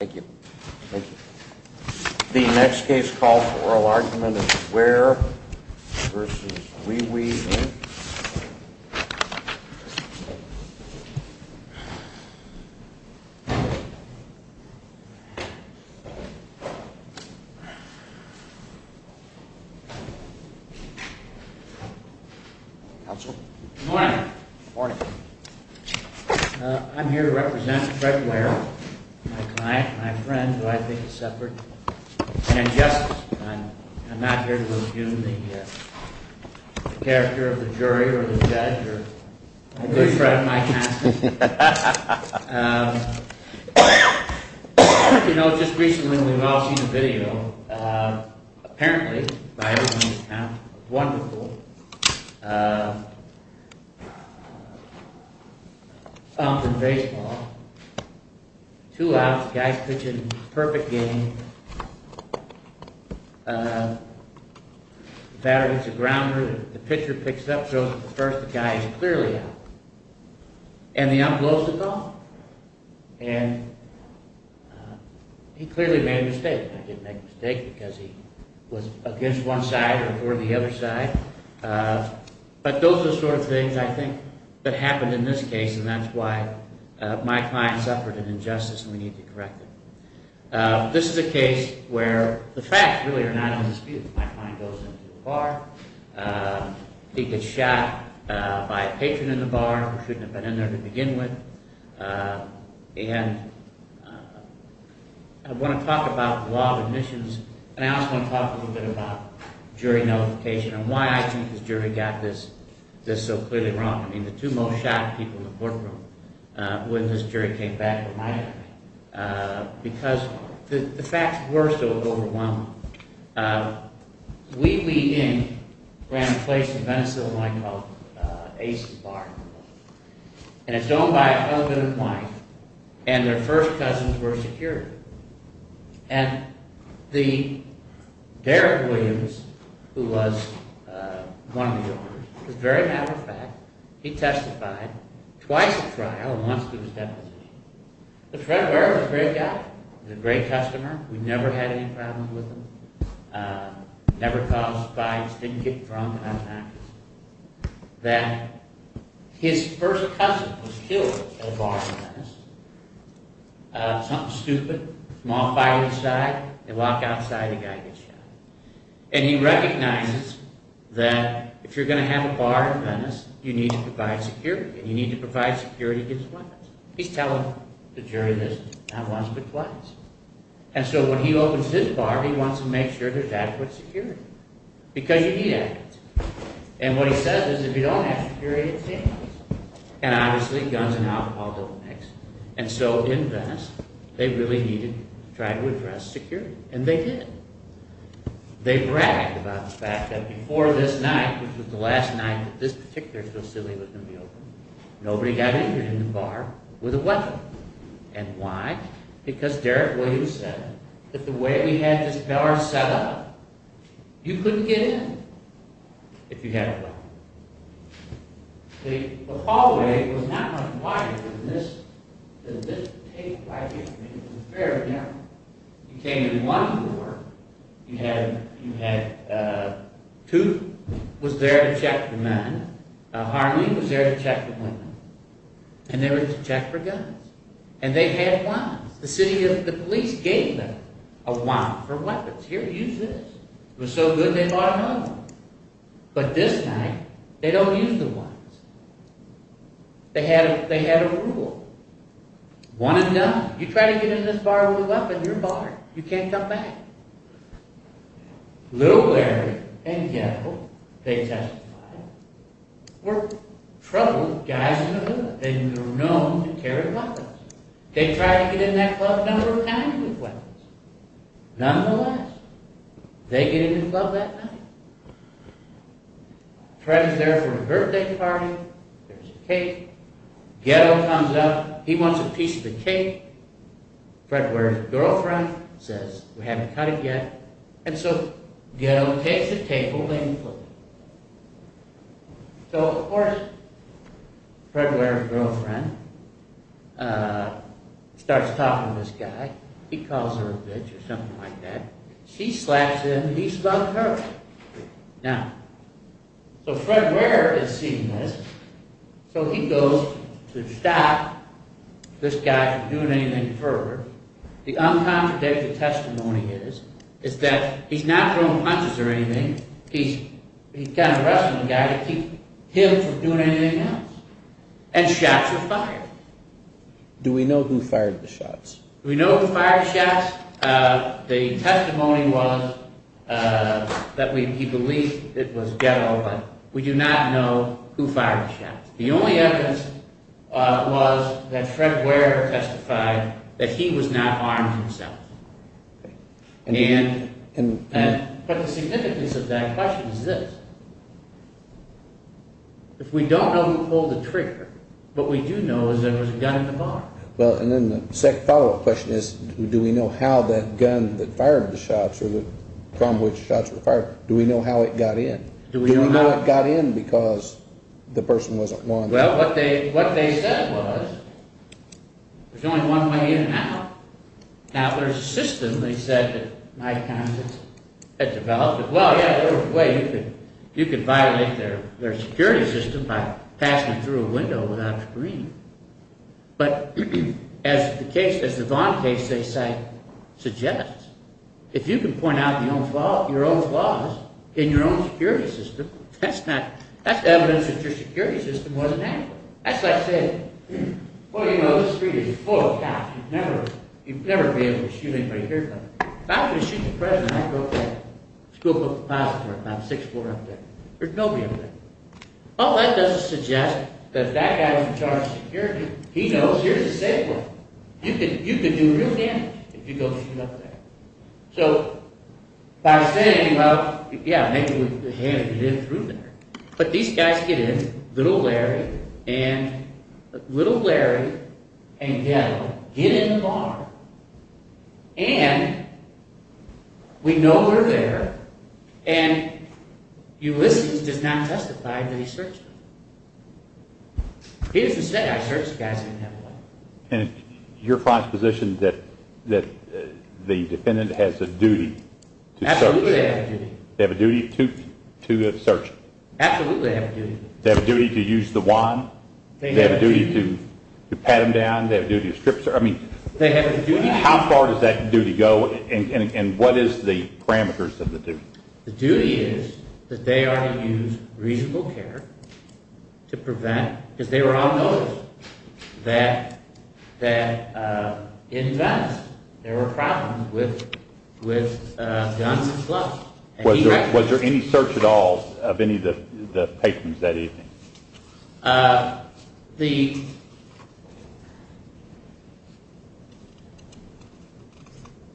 Thank you. Thank you. The next case called for oral argument is Ware v. Wi Wi, Inc. Counsel? Good morning. Good morning. I'm here to represent Fred Ware, my client, my friend who I think is separate, and justice. I'm not here to review the character of the jury, I'm here to represent the judge. You know, just recently we've all seen the video. Apparently, by everyone's account, wonderful. Two outs, the guy's pitching, perfect game. The batter hits the grounder, the pitcher picks it up, shows that the first guy is clearly out. And the ump blows the ball. And he clearly made a mistake. I didn't make a mistake because he was against one side or toward the other side. But those are the sort of things I think that happened in this case, and that's why my client suffered an injustice and we need to correct it. This is a case where the facts really are not in dispute. My client goes into the bar, he gets shot by a patron in the bar who shouldn't have been in there to begin with. And I want to talk about the law of admissions, and I also want to talk a little bit about jury notification and why I think this jury got this so clearly wrong. I mean, the two most shot people in the courtroom when this jury came back were my guys. Because the facts were so overwhelming. Wee Wee Inn ran a place in Venice, Illinois called Ace's Bar. And it's owned by a husband and wife, and their first cousins were security. And the, Derrick Williams, who was one of the owners, as a very matter of fact, he testified twice at trial and once to his deposition. But Fred Ware was a great guy. He was a great customer. We never had any problems with him. Never caused fights, didn't get drunk, and had an accident. And he recognizes that his first cousin was killed at a bar in Venice. Something stupid, a small fight inside, they walk outside, a guy gets shot. And he recognizes that if you're going to have a bar in Venice, you need to provide security. And you need to provide security twice. He's telling the jury this, not once, but twice. And so when he opens his bar, he wants to make sure there's adequate security. Because you need it. And what he says is, if you don't have security, it's dangerous. And obviously, guns and alcohol don't mix. And so in Venice, they really needed to try to address security. And they did. They bragged about the fact that before this night, which was the last night that this particular facility was going to be open, nobody got injured in the bar with a weapon. And why? Because Derek Williams said that the way we had this bar set up, you couldn't get in if you had a weapon. The hallway was not much wider than this, than this tape right here. It was very narrow. You came in one door, you had two who was there to check the men, Harley was there to check the women, and they were to check for guns. And they had wands. The city, the police gave them a wand for weapons. Here, use this. It was so good, they bought another one. But this night, they don't use the wands. They had a rule. One and done. You try to get in this bar with a weapon, you're barred. You can't come back. Little Larry and Ghetto, they testified, were troubled guys in the hood. They were known to carry weapons. They tried to get in that club a number of times with weapons. Nonetheless, they get in the club that night. Fred is there for a birthday party, there's a cake. Ghetto comes up, he wants a piece of the cake. Fred Ware's girlfriend says, we haven't cut it yet. And so, Ghetto takes the table and puts it. So, of course, Fred Ware's girlfriend starts talking to this guy. He calls her a bitch or something like that. She slaps him, and he slaps her. Now, so Fred Ware is seeing this, so he goes to stop this guy from doing anything further. The uncontradictory testimony is that he's not throwing punches or anything. He's kind of arresting the guy to keep him from doing anything else. And shots were fired. Do we know who fired the shots? Do we know who fired the shots? The testimony was that he believed it was Ghetto, but we do not know who fired the shots. The only evidence was that Fred Ware testified that he was not armed himself. But the significance of that question is this. If we don't know who pulled the trigger, what we do know is there was a gun in the bar. Well, and then the second follow-up question is, do we know how that gun that fired the shots, or from which shots were fired, do we know how it got in? Do we know how it got in because the person wasn't wanted? Well, what they said was, there's only one way in and out. Now, there's a system, they said, that Mike Townsend had developed. Well, yeah, there's a way. You could violate their security system by passing through a window without a screen. But as the Vaughn case, they say, suggests, if you can point out your own flaws in your own security system, that's evidence that your security system wasn't accurate. That's like saying, well, you know, this street is full of cops. You'd never be able to shoot anybody here. If I was going to shoot the president, I'd go up there. The school book depository, about 6'4", up there. There's nobody up there. Well, that doesn't suggest that that guy was in charge of security. He knows here's a safe room. You could do real damage if you go shoot up there. So by saying, well, yeah, maybe we can get in through there. But these guys get in, little Larry and little Larry and Daniel get in the bar, and we know we're there, and Ulysses does not testify that he searched them. He doesn't say, I searched the guys who didn't have a warrant. And your proposition that the defendant has a duty to search? Absolutely they have a duty. They have a duty to search? Absolutely they have a duty. They have a duty to use the wand? They have a duty to pat them down? They have a duty to strip them? They have a duty. How far does that duty go, and what is the parameters of the duty? The duty is that they are to use reasonable care to prevent, because they were all noticed that in Venice there were problems with guns and slugs. Was there any search at all of any of the patrons that evening?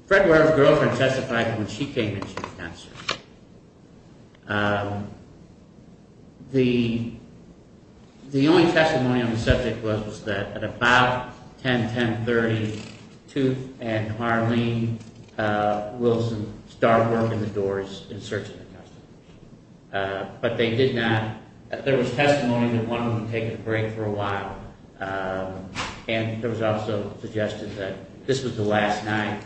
Fred Ware's girlfriend testified that when she came in, she was cancerous. The only testimony on the subject was that at about 10, 10.30, Tooth and Harleen Wilson started working the doors in search of the customer. But they did not, there was testimony that one of them had taken a break for a while, and there was also suggestion that this was the last night,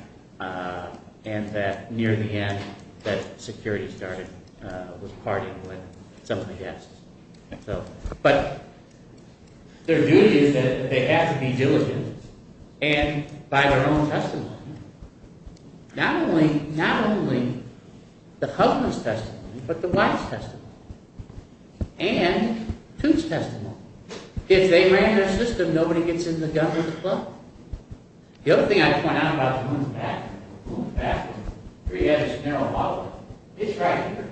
and that near the end that security started with partying with some of the guests. But their duty is that they have to be diligent, and by their own testimony. Not only the husband's testimony, but the wife's testimony, and Tooth's testimony. If they ran their system, nobody gets in the gun with the club. The other thing I point out about the woman's bathroom, the woman's bathroom, here you have this narrow hallway. It's right here.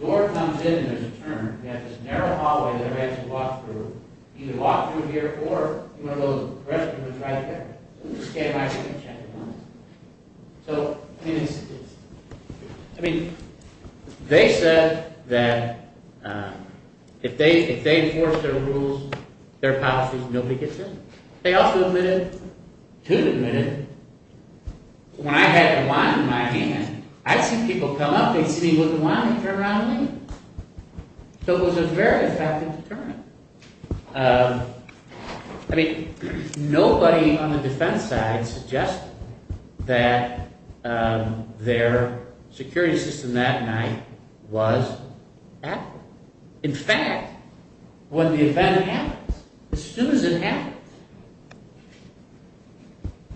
The door comes in and there's a turn, you have this narrow hallway that everybody has to walk through. You either walk through here, or you want to go to the restroom, it's right there. You just can't hide from the checkpoints. So, I mean, they said that if they enforce their rules, their policies, nobody gets in. They also admitted, Tooth admitted, when I had the wine in my hand, I'd see people come up, they'd see with the wine, they'd turn around and leave. So it was a very effective deterrent. I mean, nobody on the defense side suggested that their security system that night was accurate. In fact, when the event happens, as soon as it happens,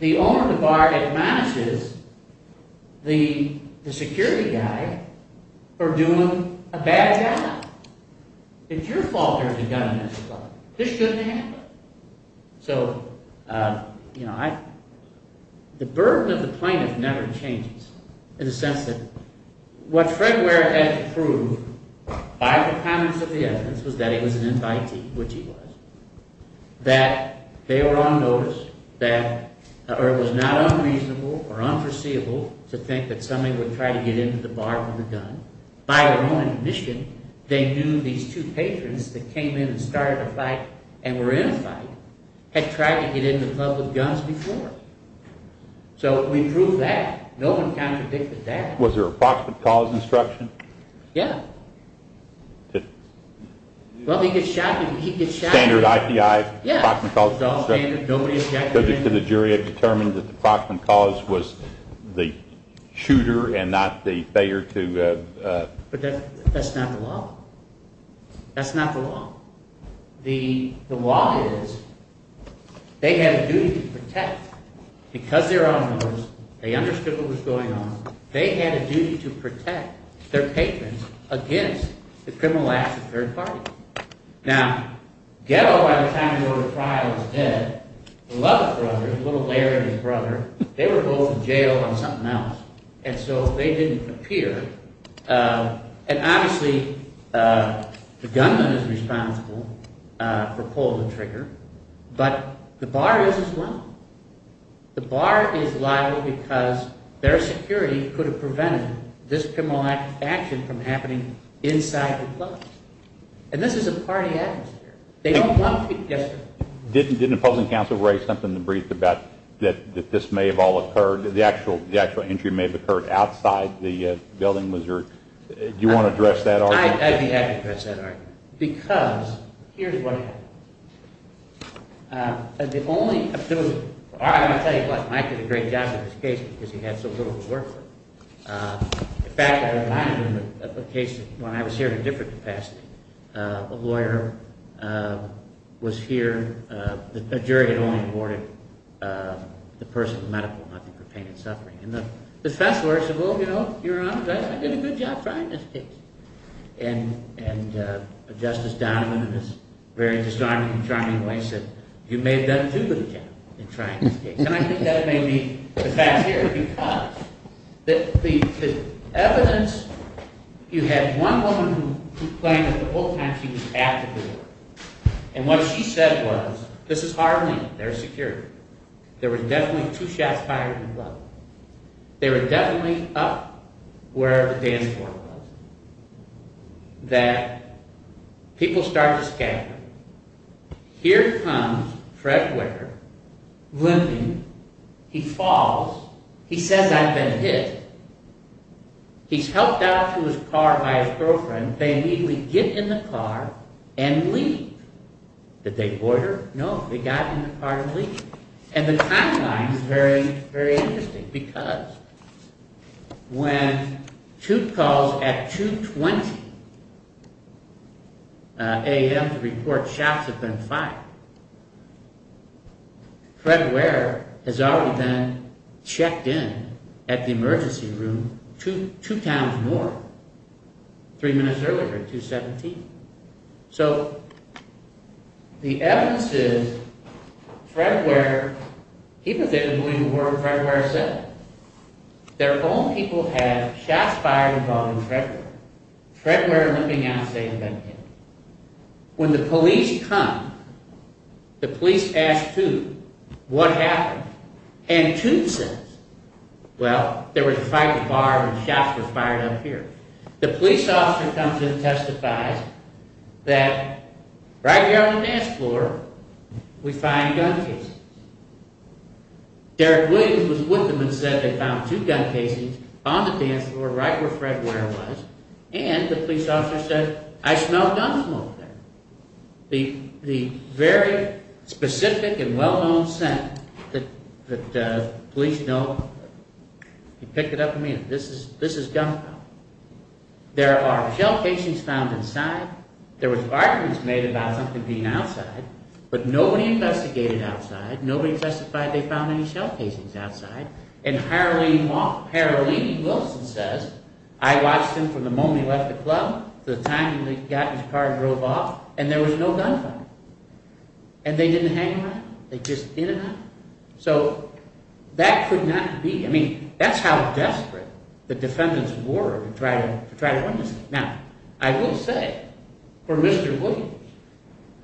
the owner of the bar admonishes the security guy for doing a bad job. It's your fault there's a gun in this club. This shouldn't happen. So, you know, the burden of the plaintiff never changes, in the sense that what Fred Ware had to prove by the comments of the evidence was that he was an anti-T, which he was, that they were on notice, that it was not unreasonable or unforeseeable to think that somebody would try to get into the bar with a gun. By their own admission, they knew these two patrons that came in and started a fight and were in a fight had tried to get in the club with guns before. So we proved that. No one contradicted that. Was there an approximate cause instruction? Yeah. Well, he gets shot. Standard IPI. Yeah. It's all standard. Nobody objected to it. The jury had determined that the approximate cause was the shooter and not the failure to... But that's not the law. That's not the law. The law is they had a duty to protect. Because they were on notice, they understood what was going on. They had a duty to protect their patrons against the criminal acts of third parties. Now, Ghetto, by the time he ordered the trial, was dead. The Lubbock brothers, little Larry and his brother, they were both in jail on something else. And so they didn't appear. And obviously, the gunman is responsible for pulling the trigger. But the bar is as well. The bar is liable because their security could have prevented this criminal action from happening inside the clubs. And this is a party atmosphere. They don't want to... Yes, sir. Didn't the public counsel raise something in the brief about that this may have all occurred, the actual injury may have occurred outside the building? Do you want to address that argument? I'd be happy to address that argument. Because here's what happened. The only... I'm going to tell you why Mike did a great job in this case, because he had so little to work for. In fact, I reminded him of a case when I was here in a different capacity. A lawyer was here. A jury had only awarded the person with medical nothing for pain and suffering. And the defense lawyer said, well, you know, Your Honor, I did a good job trying this case. And Justice Donovan, in his very disarming and charming way, said, you made them do a good job in trying this case. And I think that may be the fact here, because the evidence... You had one woman who claimed that the whole time she was at the door. And what she said was, this is Harlem. They're secure. There were definitely two shots fired in the club. They were definitely up where the dance floor was. That people started to scatter. Here comes Fred Wicker, limping. He falls. He says, I've been hit. He's helped out to his car by his girlfriend. They immediately get in the car and leave. Did they order? No. They got in the car and leave. And the timeline is very, very interesting. Because when two calls at 2.20 a.m. to report shots have been fired, Fred Ware has already been checked in at the emergency room two times more. Three minutes earlier, at 2.17. So the evidence is Fred Ware... People didn't believe a word Fred Ware said. Their own people have shots fired involving Fred Ware. Fred Ware limping out of the state of Kentucky. When the police come, the police ask Toot, what happened? And Toot says, well, there was a fight at the bar and shots were fired up here. The police officer comes in and testifies that right here on the dance floor, we find gun casings. Derek Williams was with them and said they found two gun casings on the dance floor, right where Fred Ware was. And the police officer said, I smell gun smoke there. The very specific and well-known scent that police know... He picked it up from me and said, this is gunpowder. There are shell casings found inside. There was arguments made about something being outside, but nobody investigated outside. Nobody testified they found any shell casings outside. And Harleen Wilson says, I watched him from the moment he left the club to the time he got in his car and drove off, and there was no gunfire. And they didn't hang around? They just didn't? So that could not be. I mean, that's how desperate the defendants were to try to win this thing. Now, I will say, for Mr. Williams,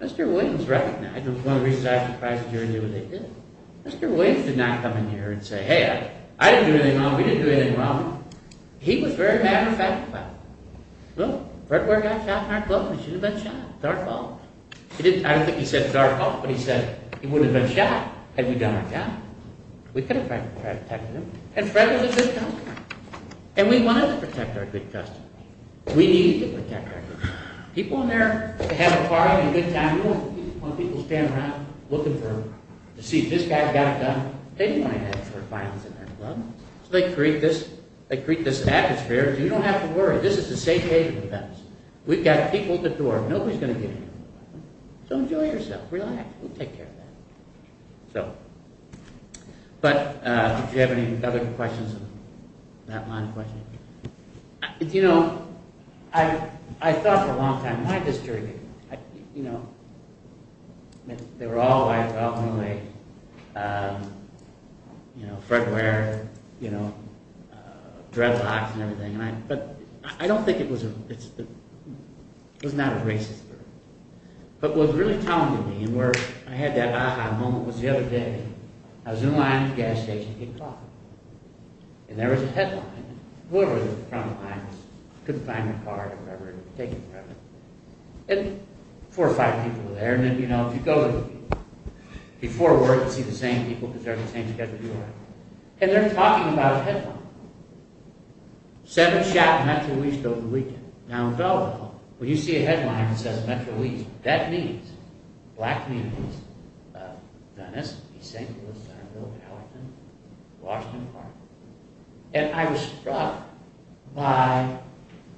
Mr. Williams was recognized. It was one of the reasons I was surprised Jerry knew what they did. Mr. Williams did not come in here and say, hey, I didn't do anything wrong, we didn't do anything wrong. He was very matter-of-fact about it. Look, Fred Ware got shot in our club and he should have been shot. It's our fault. I don't think he said it's our fault, but he said he would have been shot had we done our job. We could have protected him. And Fred was a good customer. And we wanted to protect our good customers. We needed to protect our good customers. People in there, they have a party and a good time. We don't want people to stand around looking to see this guy got it done. They do want to have some sort of violence in their club. So they create this atmosphere. You don't have to worry. This is the safe haven for us. We've got people at the door. Nobody's going to get in here. So enjoy yourself. Relax. We'll take care of that. But do you have any other questions on that line of questioning? You know, I thought for a long time, why did this jury get killed? You know, they were all white, but ultimately, you know, Fred Ware, you know, dreadlocks and everything. But I don't think it was not a racist murder. But what was really telling to me and where I had that ah-ha moment was the other day. I was in line at the gas station getting coffee. And there was a headline. Whoever was in the front of the line couldn't find their card or whatever. And four or five people were there. And, you know, if you go to the people before work and see the same people because they're on the same schedule as you are, and they're talking about a headline. Seven shot Metro East over the weekend. Now, in Delaware, when you see a headline that says Metro East, that means, black means, Venice, East St. Louis, Centerville, Gallatin, Washington Park. And I was struck by,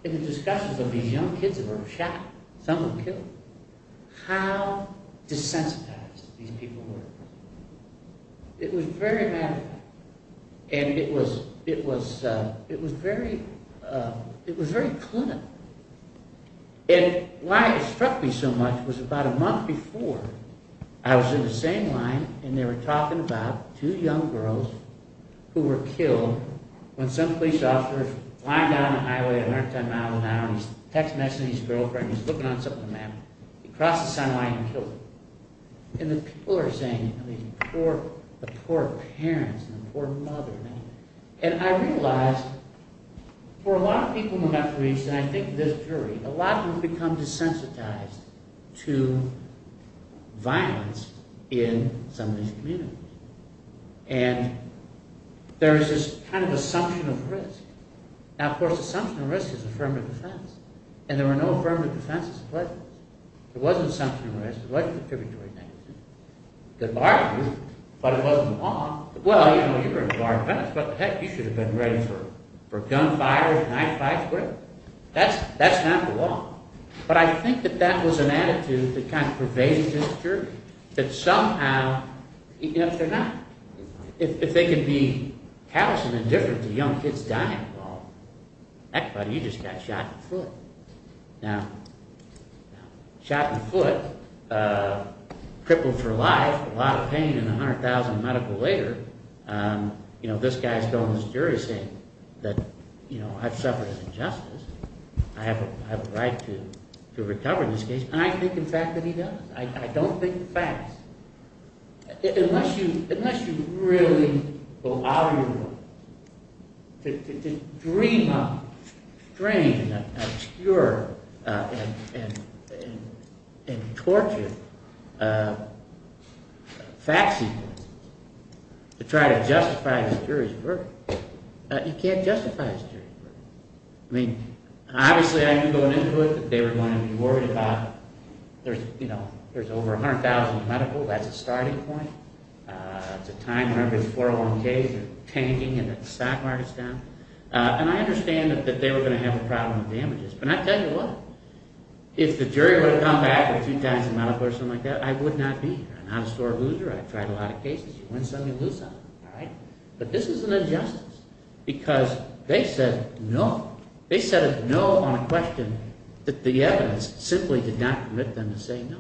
in the discussions of these young kids that were shot, some were killed, how desensitized these people were. It was very maddening. And it was very clinical. And why it struck me so much was about a month before, I was in the same line and they were talking about two young girls who were killed when some police officer was flying down the highway at 110 miles an hour and he was text messaging his girlfriend. He was looking on something on the map. He crossed the sign line and killed her. And the people are saying, the poor parents and the poor mother. And I realized, for a lot of people in Metro East, and I think this jury, a lot of them have become desensitized to violence in some of these communities. And there is this kind of assumption of risk. Now, of course, assumption of risk is affirmative defense. And there were no affirmative defenses in place. There wasn't assumption of risk. What's the defibrillatory mechanism? The bar is used, but it wasn't the law. Well, you know, you're a bar defense, but heck, you should have been ready for gunfights, knife fights, whatever. That's not the law. But I think that that was an attitude that kind of pervaded this jury, that somehow, yes or no, if they can be callous and indifferent to young kids dying, well, that's funny, you just got shot in the foot. Now, shot in the foot, crippled for life, a lot of pain, and 100,000 medical later, you know, this guy is going to this jury saying that, you know, I've suffered injustice. I have a right to recover this case. And I think, in fact, that he does. I don't think the facts. Unless you really go out of your way to dream up strange and obscure and tortured fact sequences to try to justify the jury's verdict, you can't justify the jury's verdict. I mean, obviously, I knew going into it that they were going to be worried about, you know, there's over 100,000 medical. That's a starting point. It's a time where every 401Ks are tanking and the stock market's down. And I understand that they were going to have a problem with damages. But I tell you what, if the jury would have come back with 2,000 medical or something like that, I would not be here. I'm not a sore loser. I've tried a lot of cases. You win some, you lose some, all right? But this is an injustice because they said no. They said no on a question that the evidence simply did not permit them to say no.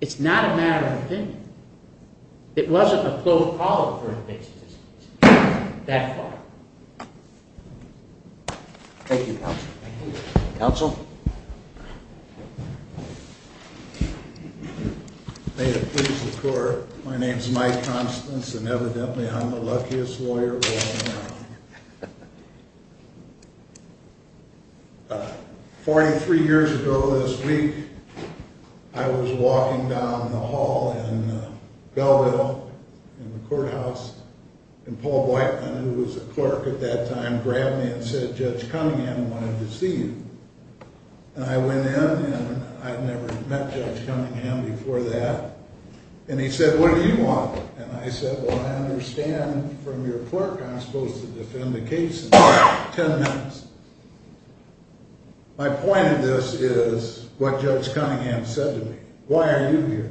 It's not a matter of opinion. It wasn't a closed call for a case that far. Thank you, counsel. Counsel? May it please the court, my name's Mike Constance, and evidently I'm the luckiest lawyer around. Forty-three years ago this week, I was walking down the hall in Belleville in the courthouse, and Paul Whiteman, who was a clerk at that time, grabbed me and said, Judge Cunningham wanted to see you. And I went in, and I'd never met Judge Cunningham before that. And he said, what do you want? And I said, well, I understand from your clerk I'm supposed to defend the case in ten minutes. My point of this is what Judge Cunningham said to me. Why are you here?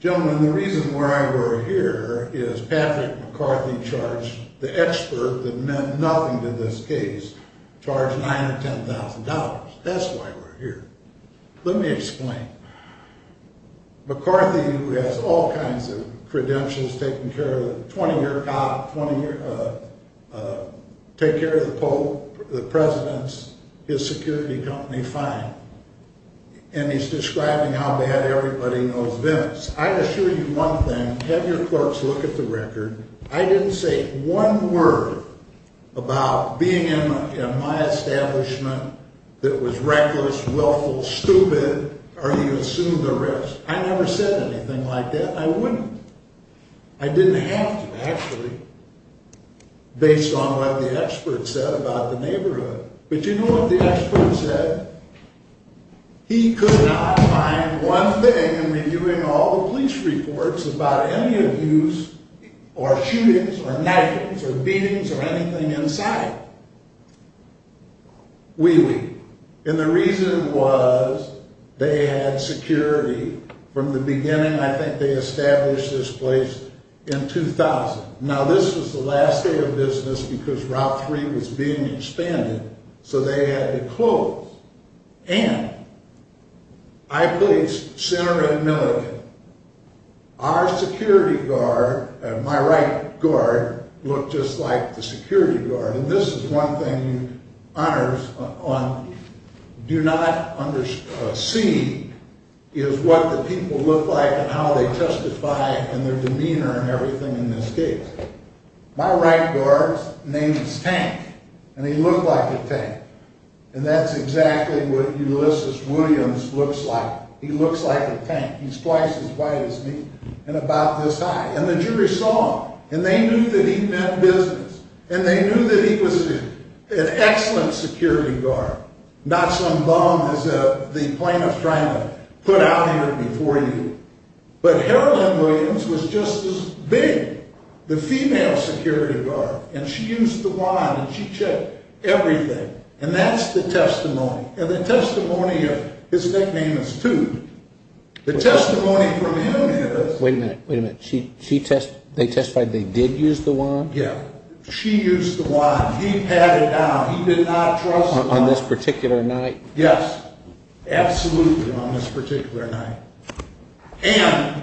Gentlemen, the reason why we're here is Patrick McCarthy charged the expert that meant nothing to this case, charged $910,000. That's why we're here. Let me explain. McCarthy, who has all kinds of credentials, taking care of the 20-year cop, take care of the Pope, the presidents, his security company, fine. And he's describing how bad everybody knows this. I assure you one thing, have your clerks look at the record. I didn't say one word about being in my establishment that was reckless, willful, stupid. Or you assume the risk. I never said anything like that, and I wouldn't. I didn't have to, actually, based on what the expert said about the neighborhood. But you know what the expert said? He could not find one thing in reviewing all the police reports about any abuse or shootings or knifings or beatings or anything inside. Wee-wee. And the reason was they had security from the beginning. I think they established this place in 2000. Now, this was the last day of business because Route 3 was being expanded, so they had to close. And I placed center at Milligan. Our security guard, my right guard, looked just like the security guard. And this is one thing you honors on do not see is what the people look like and how they testify and their demeanor and everything in this case. My right guard's name is Tank, and he looked like a tank. And that's exactly what Ulysses Williams looks like. He looks like a tank. He's twice as white as me and about this high. And the jury saw him, and they knew that he meant business. And they knew that he was an excellent security guard, not some bum as the plaintiff's trying to put out here before you. But Harold M. Williams was just as big, the female security guard. And she used the wand, and she checked everything. And that's the testimony. And the testimony of his nickname is Toot. The testimony from him is... Wait a minute. They testified they did use the wand? Yeah. She used the wand. He pat it down. He did not trust the wand. On this particular night? Yes. Absolutely on this particular night. And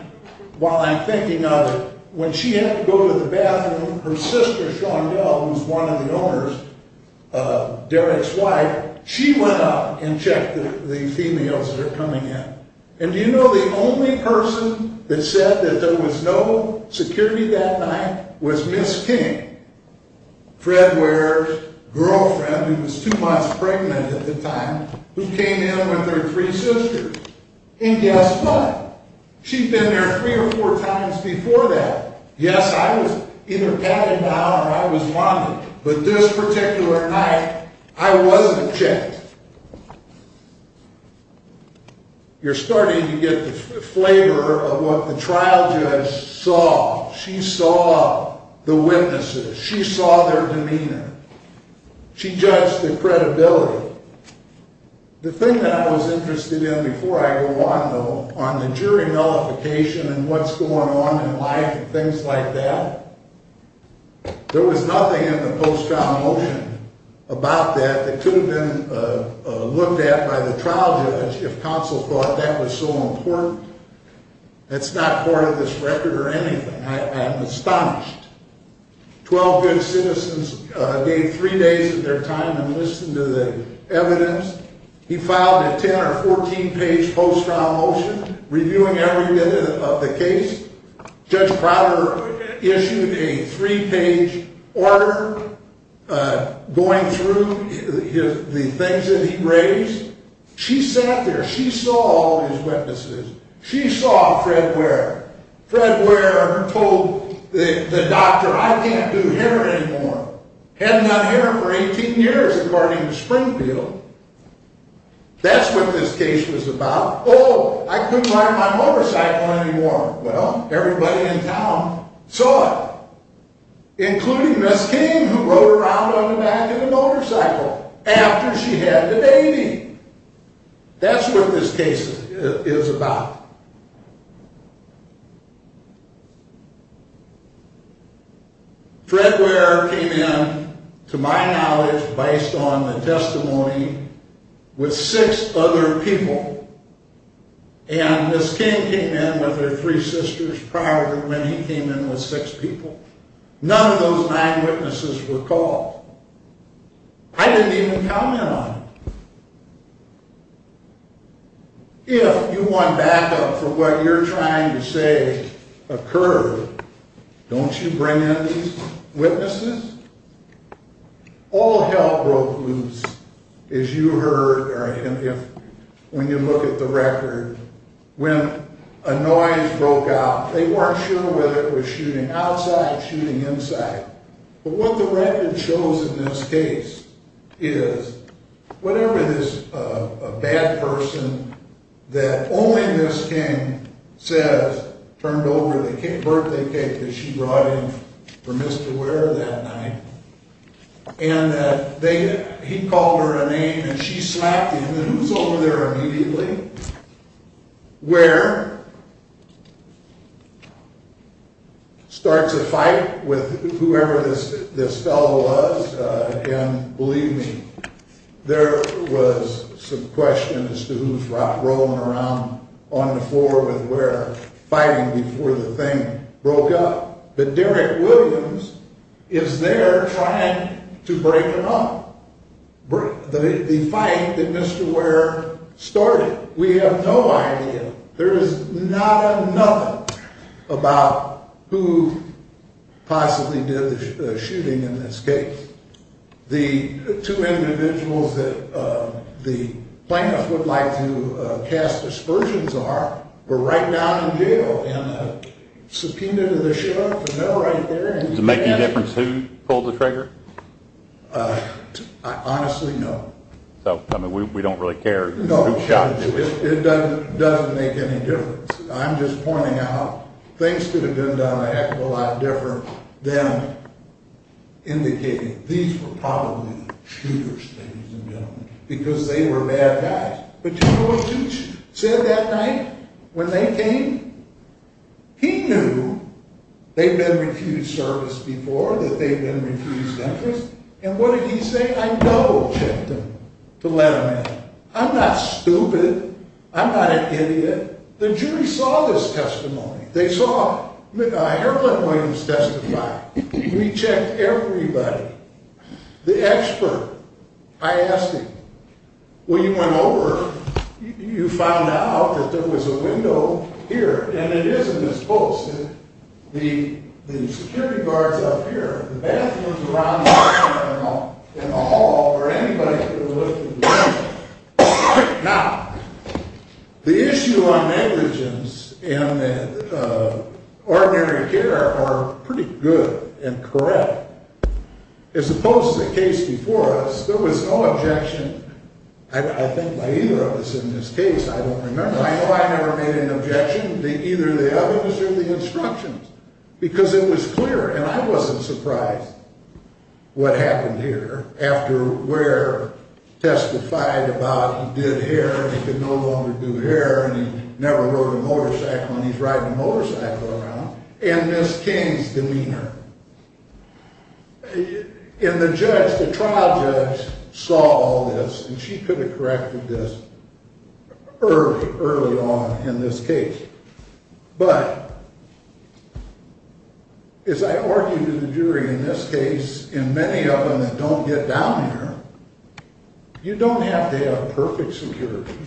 while I'm thinking of it, when she had to go to the bathroom, her sister, Sean Bell, who's one of the owners, Derek's wife, she went up and checked the females that are coming in. And do you know the only person that said that there was no security that night was Miss King, Fred Ware's girlfriend, who was two months pregnant at the time, who came in with her three sisters. And guess what? She'd been there three or four times before that. Yes, I was either patting down or I was wanding. But this particular night, I wasn't checked. You're starting to get the flavor of what the trial judge saw. She saw the witnesses. She saw their demeanor. She judged the credibility. The thing that I was interested in before I go on, though, on the jury nullification and what's going on in life and things like that, there was nothing in the post-trial motion about that that could have been looked at by the trial judge if counsel thought that was so important. That's not part of this record or anything. I am astonished. Twelve good citizens gave three days of their time to listen to the evidence. He filed a 10- or 14-page post-trial motion reviewing every minute of the case. Judge Prater issued a three-page order going through the things that he raised. She sat there. She saw all these witnesses. She saw Fred Ware. Fred Ware told the doctor, I can't do hair anymore. Hadn't done hair for 18 years, according to Springfield. That's what this case was about. Oh, I couldn't ride my motorcycle anymore. Well, everybody in town saw it, including Miss King, who rode around on the back of a motorcycle after she had the baby. That's what this case is about. Fred Ware came in, to my knowledge, based on the testimony with six other people. And Miss King came in with her three sisters prior to when he came in with six people. None of those nine witnesses were caught. I didn't even comment on it. If you want backup for what you're trying to say occurred, don't you bring in these witnesses? All hell broke loose, as you heard, when you look at the record. When a noise broke out, they weren't sure whether it was shooting outside or shooting inside. But what the record shows in this case is whatever this bad person that only Miss King says turned over the birthday cake that she brought in for Mr. Ware that night, and that he called her a name, and she slapped him. And who's over there immediately? Ware starts a fight with whoever this fellow was, and believe me, there was some question as to who's rolling around on the floor with Ware, fighting before the thing broke up. But Derek Williams is there trying to break them up, the fight that Mr. Ware started. We have no idea. There is not another about who possibly did the shooting in this case. The two individuals that the plaintiffs would like to cast aspersions are were right down in jail and subpoenaed to the sheriff, and they're right there. Does it make any difference who pulled the trigger? Honestly, no. So, I mean, we don't really care who shot who. No, it doesn't make any difference. I'm just pointing out things could have been done a heck of a lot different than indicating these were probably the shooters, ladies and gentlemen, because they were bad guys. But do you know what Judge said that night when they came? He knew they'd been refused service before, that they'd been refused entrance, and what did he say? I double-checked them to let them in. I'm not stupid. I'm not an idiot. The jury saw this testimony. They saw Herlin Williams testify. We checked everybody, the expert. I asked him, when you went over, you found out that there was a window here, and it is in this post. The security guard's up here. The bathroom's around the corner in the hall, or anybody could have looked. Now, the issue on negligence and ordinary care are pretty good and correct. As opposed to the case before us, there was no objection, I think, by either of us in this case. I don't remember. I know I never made an objection to either of the others or the instructions because it was clear, and I wasn't surprised what happened here after Ware testified about he did hair and he could no longer do hair and he never rode a motorcycle and he's riding a motorcycle around, and Ms. King's demeanor. And the judge, the trial judge, saw all this, and she could have corrected this early on in this case. But as I argued to the jury in this case, and many of them that don't get down here, you don't have to have perfect security.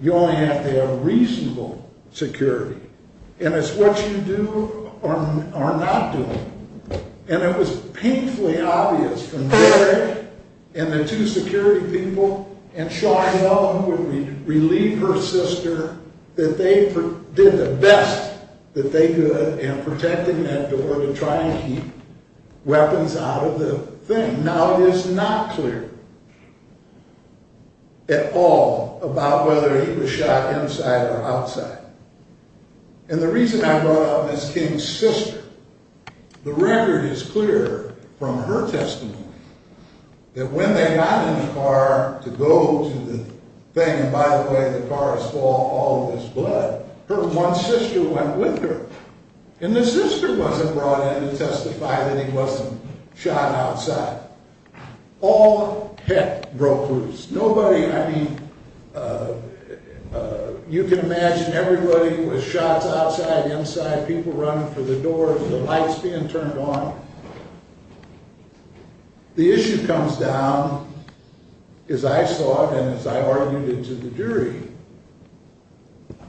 You only have to have reasonable security. And it's what you do or not do. And it was painfully obvious from Gary and the two security people and Sean Young who would relieve her sister that they did the best that they could in protecting that door to try and keep weapons out of the thing. And now it is not clear at all about whether he was shot inside or outside. And the reason I brought up Ms. King's sister, the record is clear from her testimony that when they got in the car to go to the thing, and by the way, the car is full of all of this blood, her one sister went with her, and the sister wasn't brought in to testify that he wasn't shot outside. All heck broke loose. Nobody, I mean, you can imagine everybody was shot outside, inside, people running for the door, the lights being turned on. The issue comes down, as I saw and as I argued it to the jury,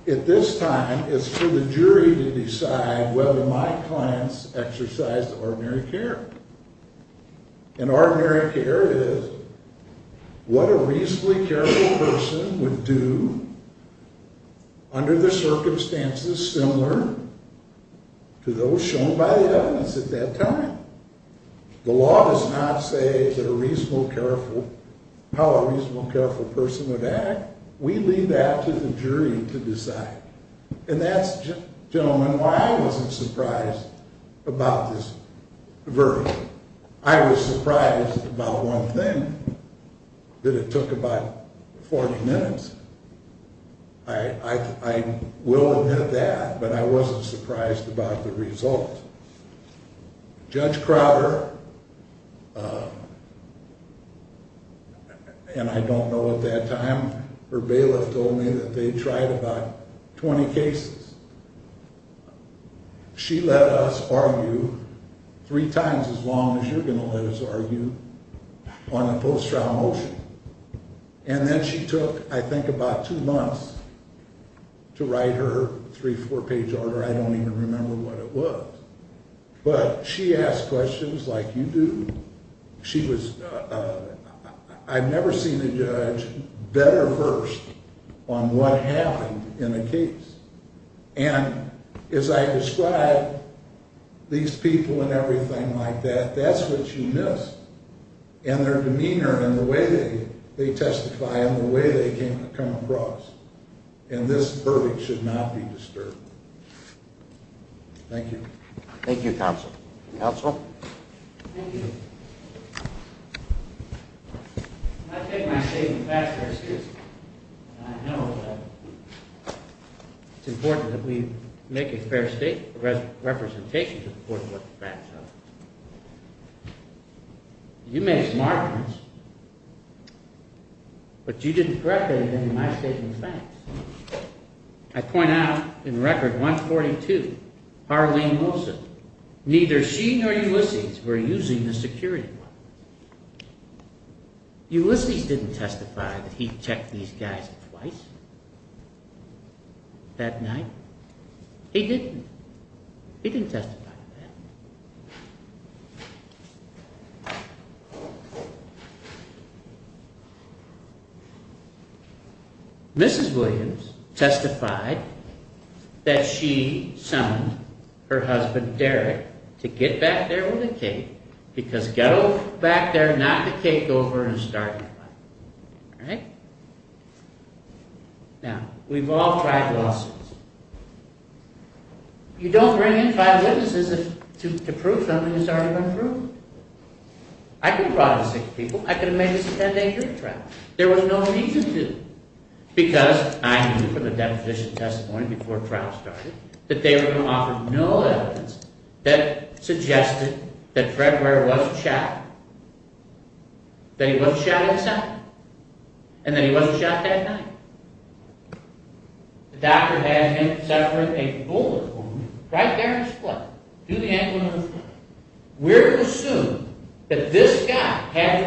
at this time it's for the jury to decide whether my clients exercised ordinary care. And ordinary care is what a reasonably careful person would do under the circumstances similar to those shown by the evidence at that time. The law does not say how a reasonably careful person would act. We leave that to the jury to decide. And that's, gentlemen, why I wasn't surprised about this verdict. I was surprised about one thing, that it took about 40 minutes. I will admit that, but I wasn't surprised about the result. Judge Crowder, and I don't know at that time, her bailiff told me that they tried about 20 cases. She let us argue three times as long as you're going to let us argue on a post-trial motion. And then she took, I think, about two months to write her three-, four-page order. I don't even remember what it was. But she asked questions like you do. She was, I've never seen a judge better first on what happened in a case. And as I described, these people and everything like that, that's what you miss. And their demeanor and the way they testify and the way they come across. And this verdict should not be disturbed. Thank you. Thank you, counsel. Counsel? Thank you. I take my statement fast, very seriously. And I know that it's important that we make a fair representation to support what the facts are. You made smart moves. But you didn't correct any of them in my statement, thanks. I point out in Record 142, Harleen Wilson, neither she nor Ulysses were using the security wire. Ulysses didn't testify that he checked these guys twice that night. He didn't. He didn't testify to that. Mrs. Williams testified that she summoned her husband, Derek, to get back there with the cake. Because go back there, knock the cake over, and start anew. Alright? Now, we've all tried lawsuits. You don't bring in five witnesses to prove something that's already been proved. I could have brought in six people. I could have made this a 10-day hearing trial. There was no need to do it. Because I knew from the deposition testimony before trial started that they were going to offer no evidence that suggested that Fred Ware was a child. That he was a child himself. And that he wasn't shot that night. The doctor has him separate a boulder for me. Right there in his foot. To the ankle and to the foot. We're going to assume that this guy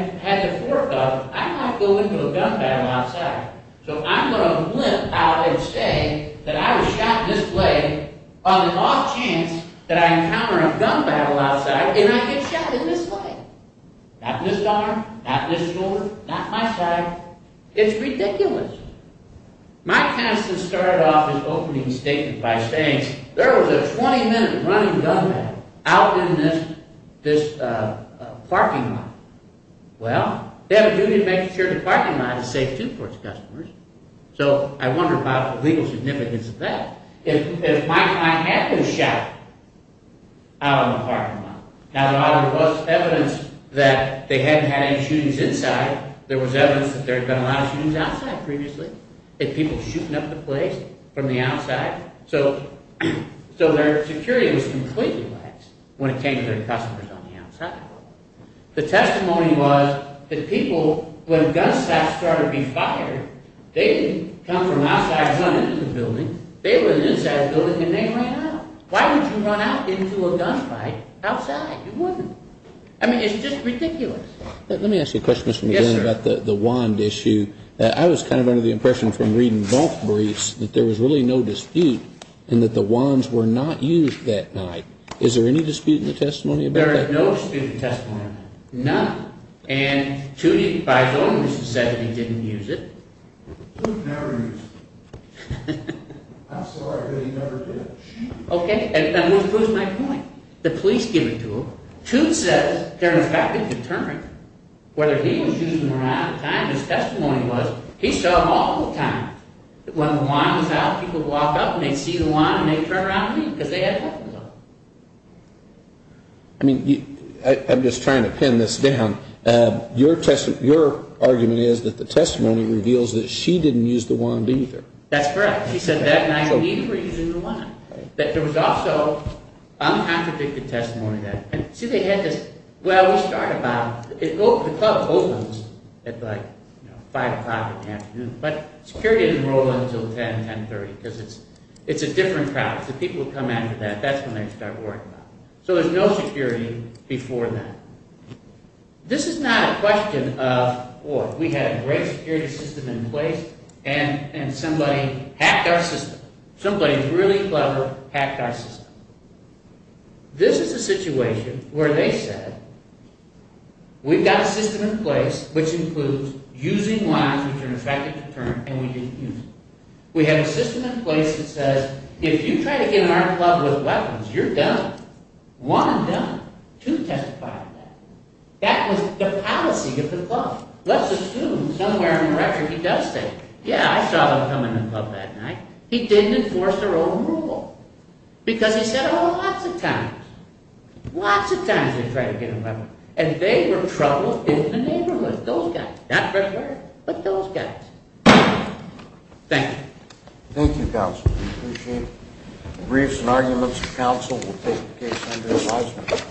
had the forethought, I might go into a gun battle outside. So I'm going to limp out and say that I was shot in this leg on an off chance that I encounter a gun battle outside and I get shot in this leg. Not in this arm, not in this shoulder, not in my side. It's ridiculous. Mike Peniston started off his opening statement by saying there was a 20-minute running gun battle out in this parking lot. Well, they have a duty to make sure the parking lot is safe too for its customers. So I wonder about the legal significance of that. If Mike and I had been shot out in the parking lot. Now there was evidence that they hadn't had any shootings inside. There was evidence that there had been a lot of shootings outside previously. And people shooting up the place from the outside. So their security was completely lax when it came to their customers on the outside. The testimony was that people, when gun shots started to be fired, they didn't come from outside and run into the building. They were inside the building and they ran out. Why would you run out into a gun fight outside? You wouldn't. I mean, it's just ridiculous. Let me ask you a question, Mr. McGinn, about the wand issue. I was kind of under the impression from reading both briefs that there was really no dispute and that the wands were not used that night. Is there any dispute in the testimony about that? There is no dispute in the testimony. None. And Tootie, by his own admission, said that he didn't use it. Toot never used it. I'm sorry, but he never did. Okay. And what was my point? The police give it to him. Toot says they're effectively determined whether he was using the wand at the time. His testimony was he saw him all the time. When the wand was out, people would walk up and they'd see the wand and they'd turn around and leave because they had weapons on them. I mean, I'm just trying to pin this down. Your argument is that the testimony reveals that she didn't use the wand either. That's correct. She said that night and neither were using the wand. There was also uncontradicted testimony. See, they had this, well, we start about, the club opens at like 5 o'clock in the afternoon. But security didn't roll until 10, 1030 because it's a different crowd. So people would come after that. That's when they'd start worrying about it. So there's no security before that. This is not a question of, oh, we had a great security system in place and somebody hacked our system. Somebody really clever hacked our system. This is a situation where they said, we've got a system in place which includes using wands which are an effective deterrent and we didn't use them. We have a system in place that says, if you try to get in our club with weapons, you're done. One and done. Two testified that. That was the policy of the club. Let's assume somewhere in the record he does say, yeah, I saw them come in the club that night. He didn't enforce their own rule. Because he said, oh, lots of times. Lots of times they try to get in our club. And they were trouble in the neighborhood. Those guys. Not Red River, but those guys. Thank you. Thank you, Counsel. We appreciate briefs and arguments. Counsel will take the case under advisement.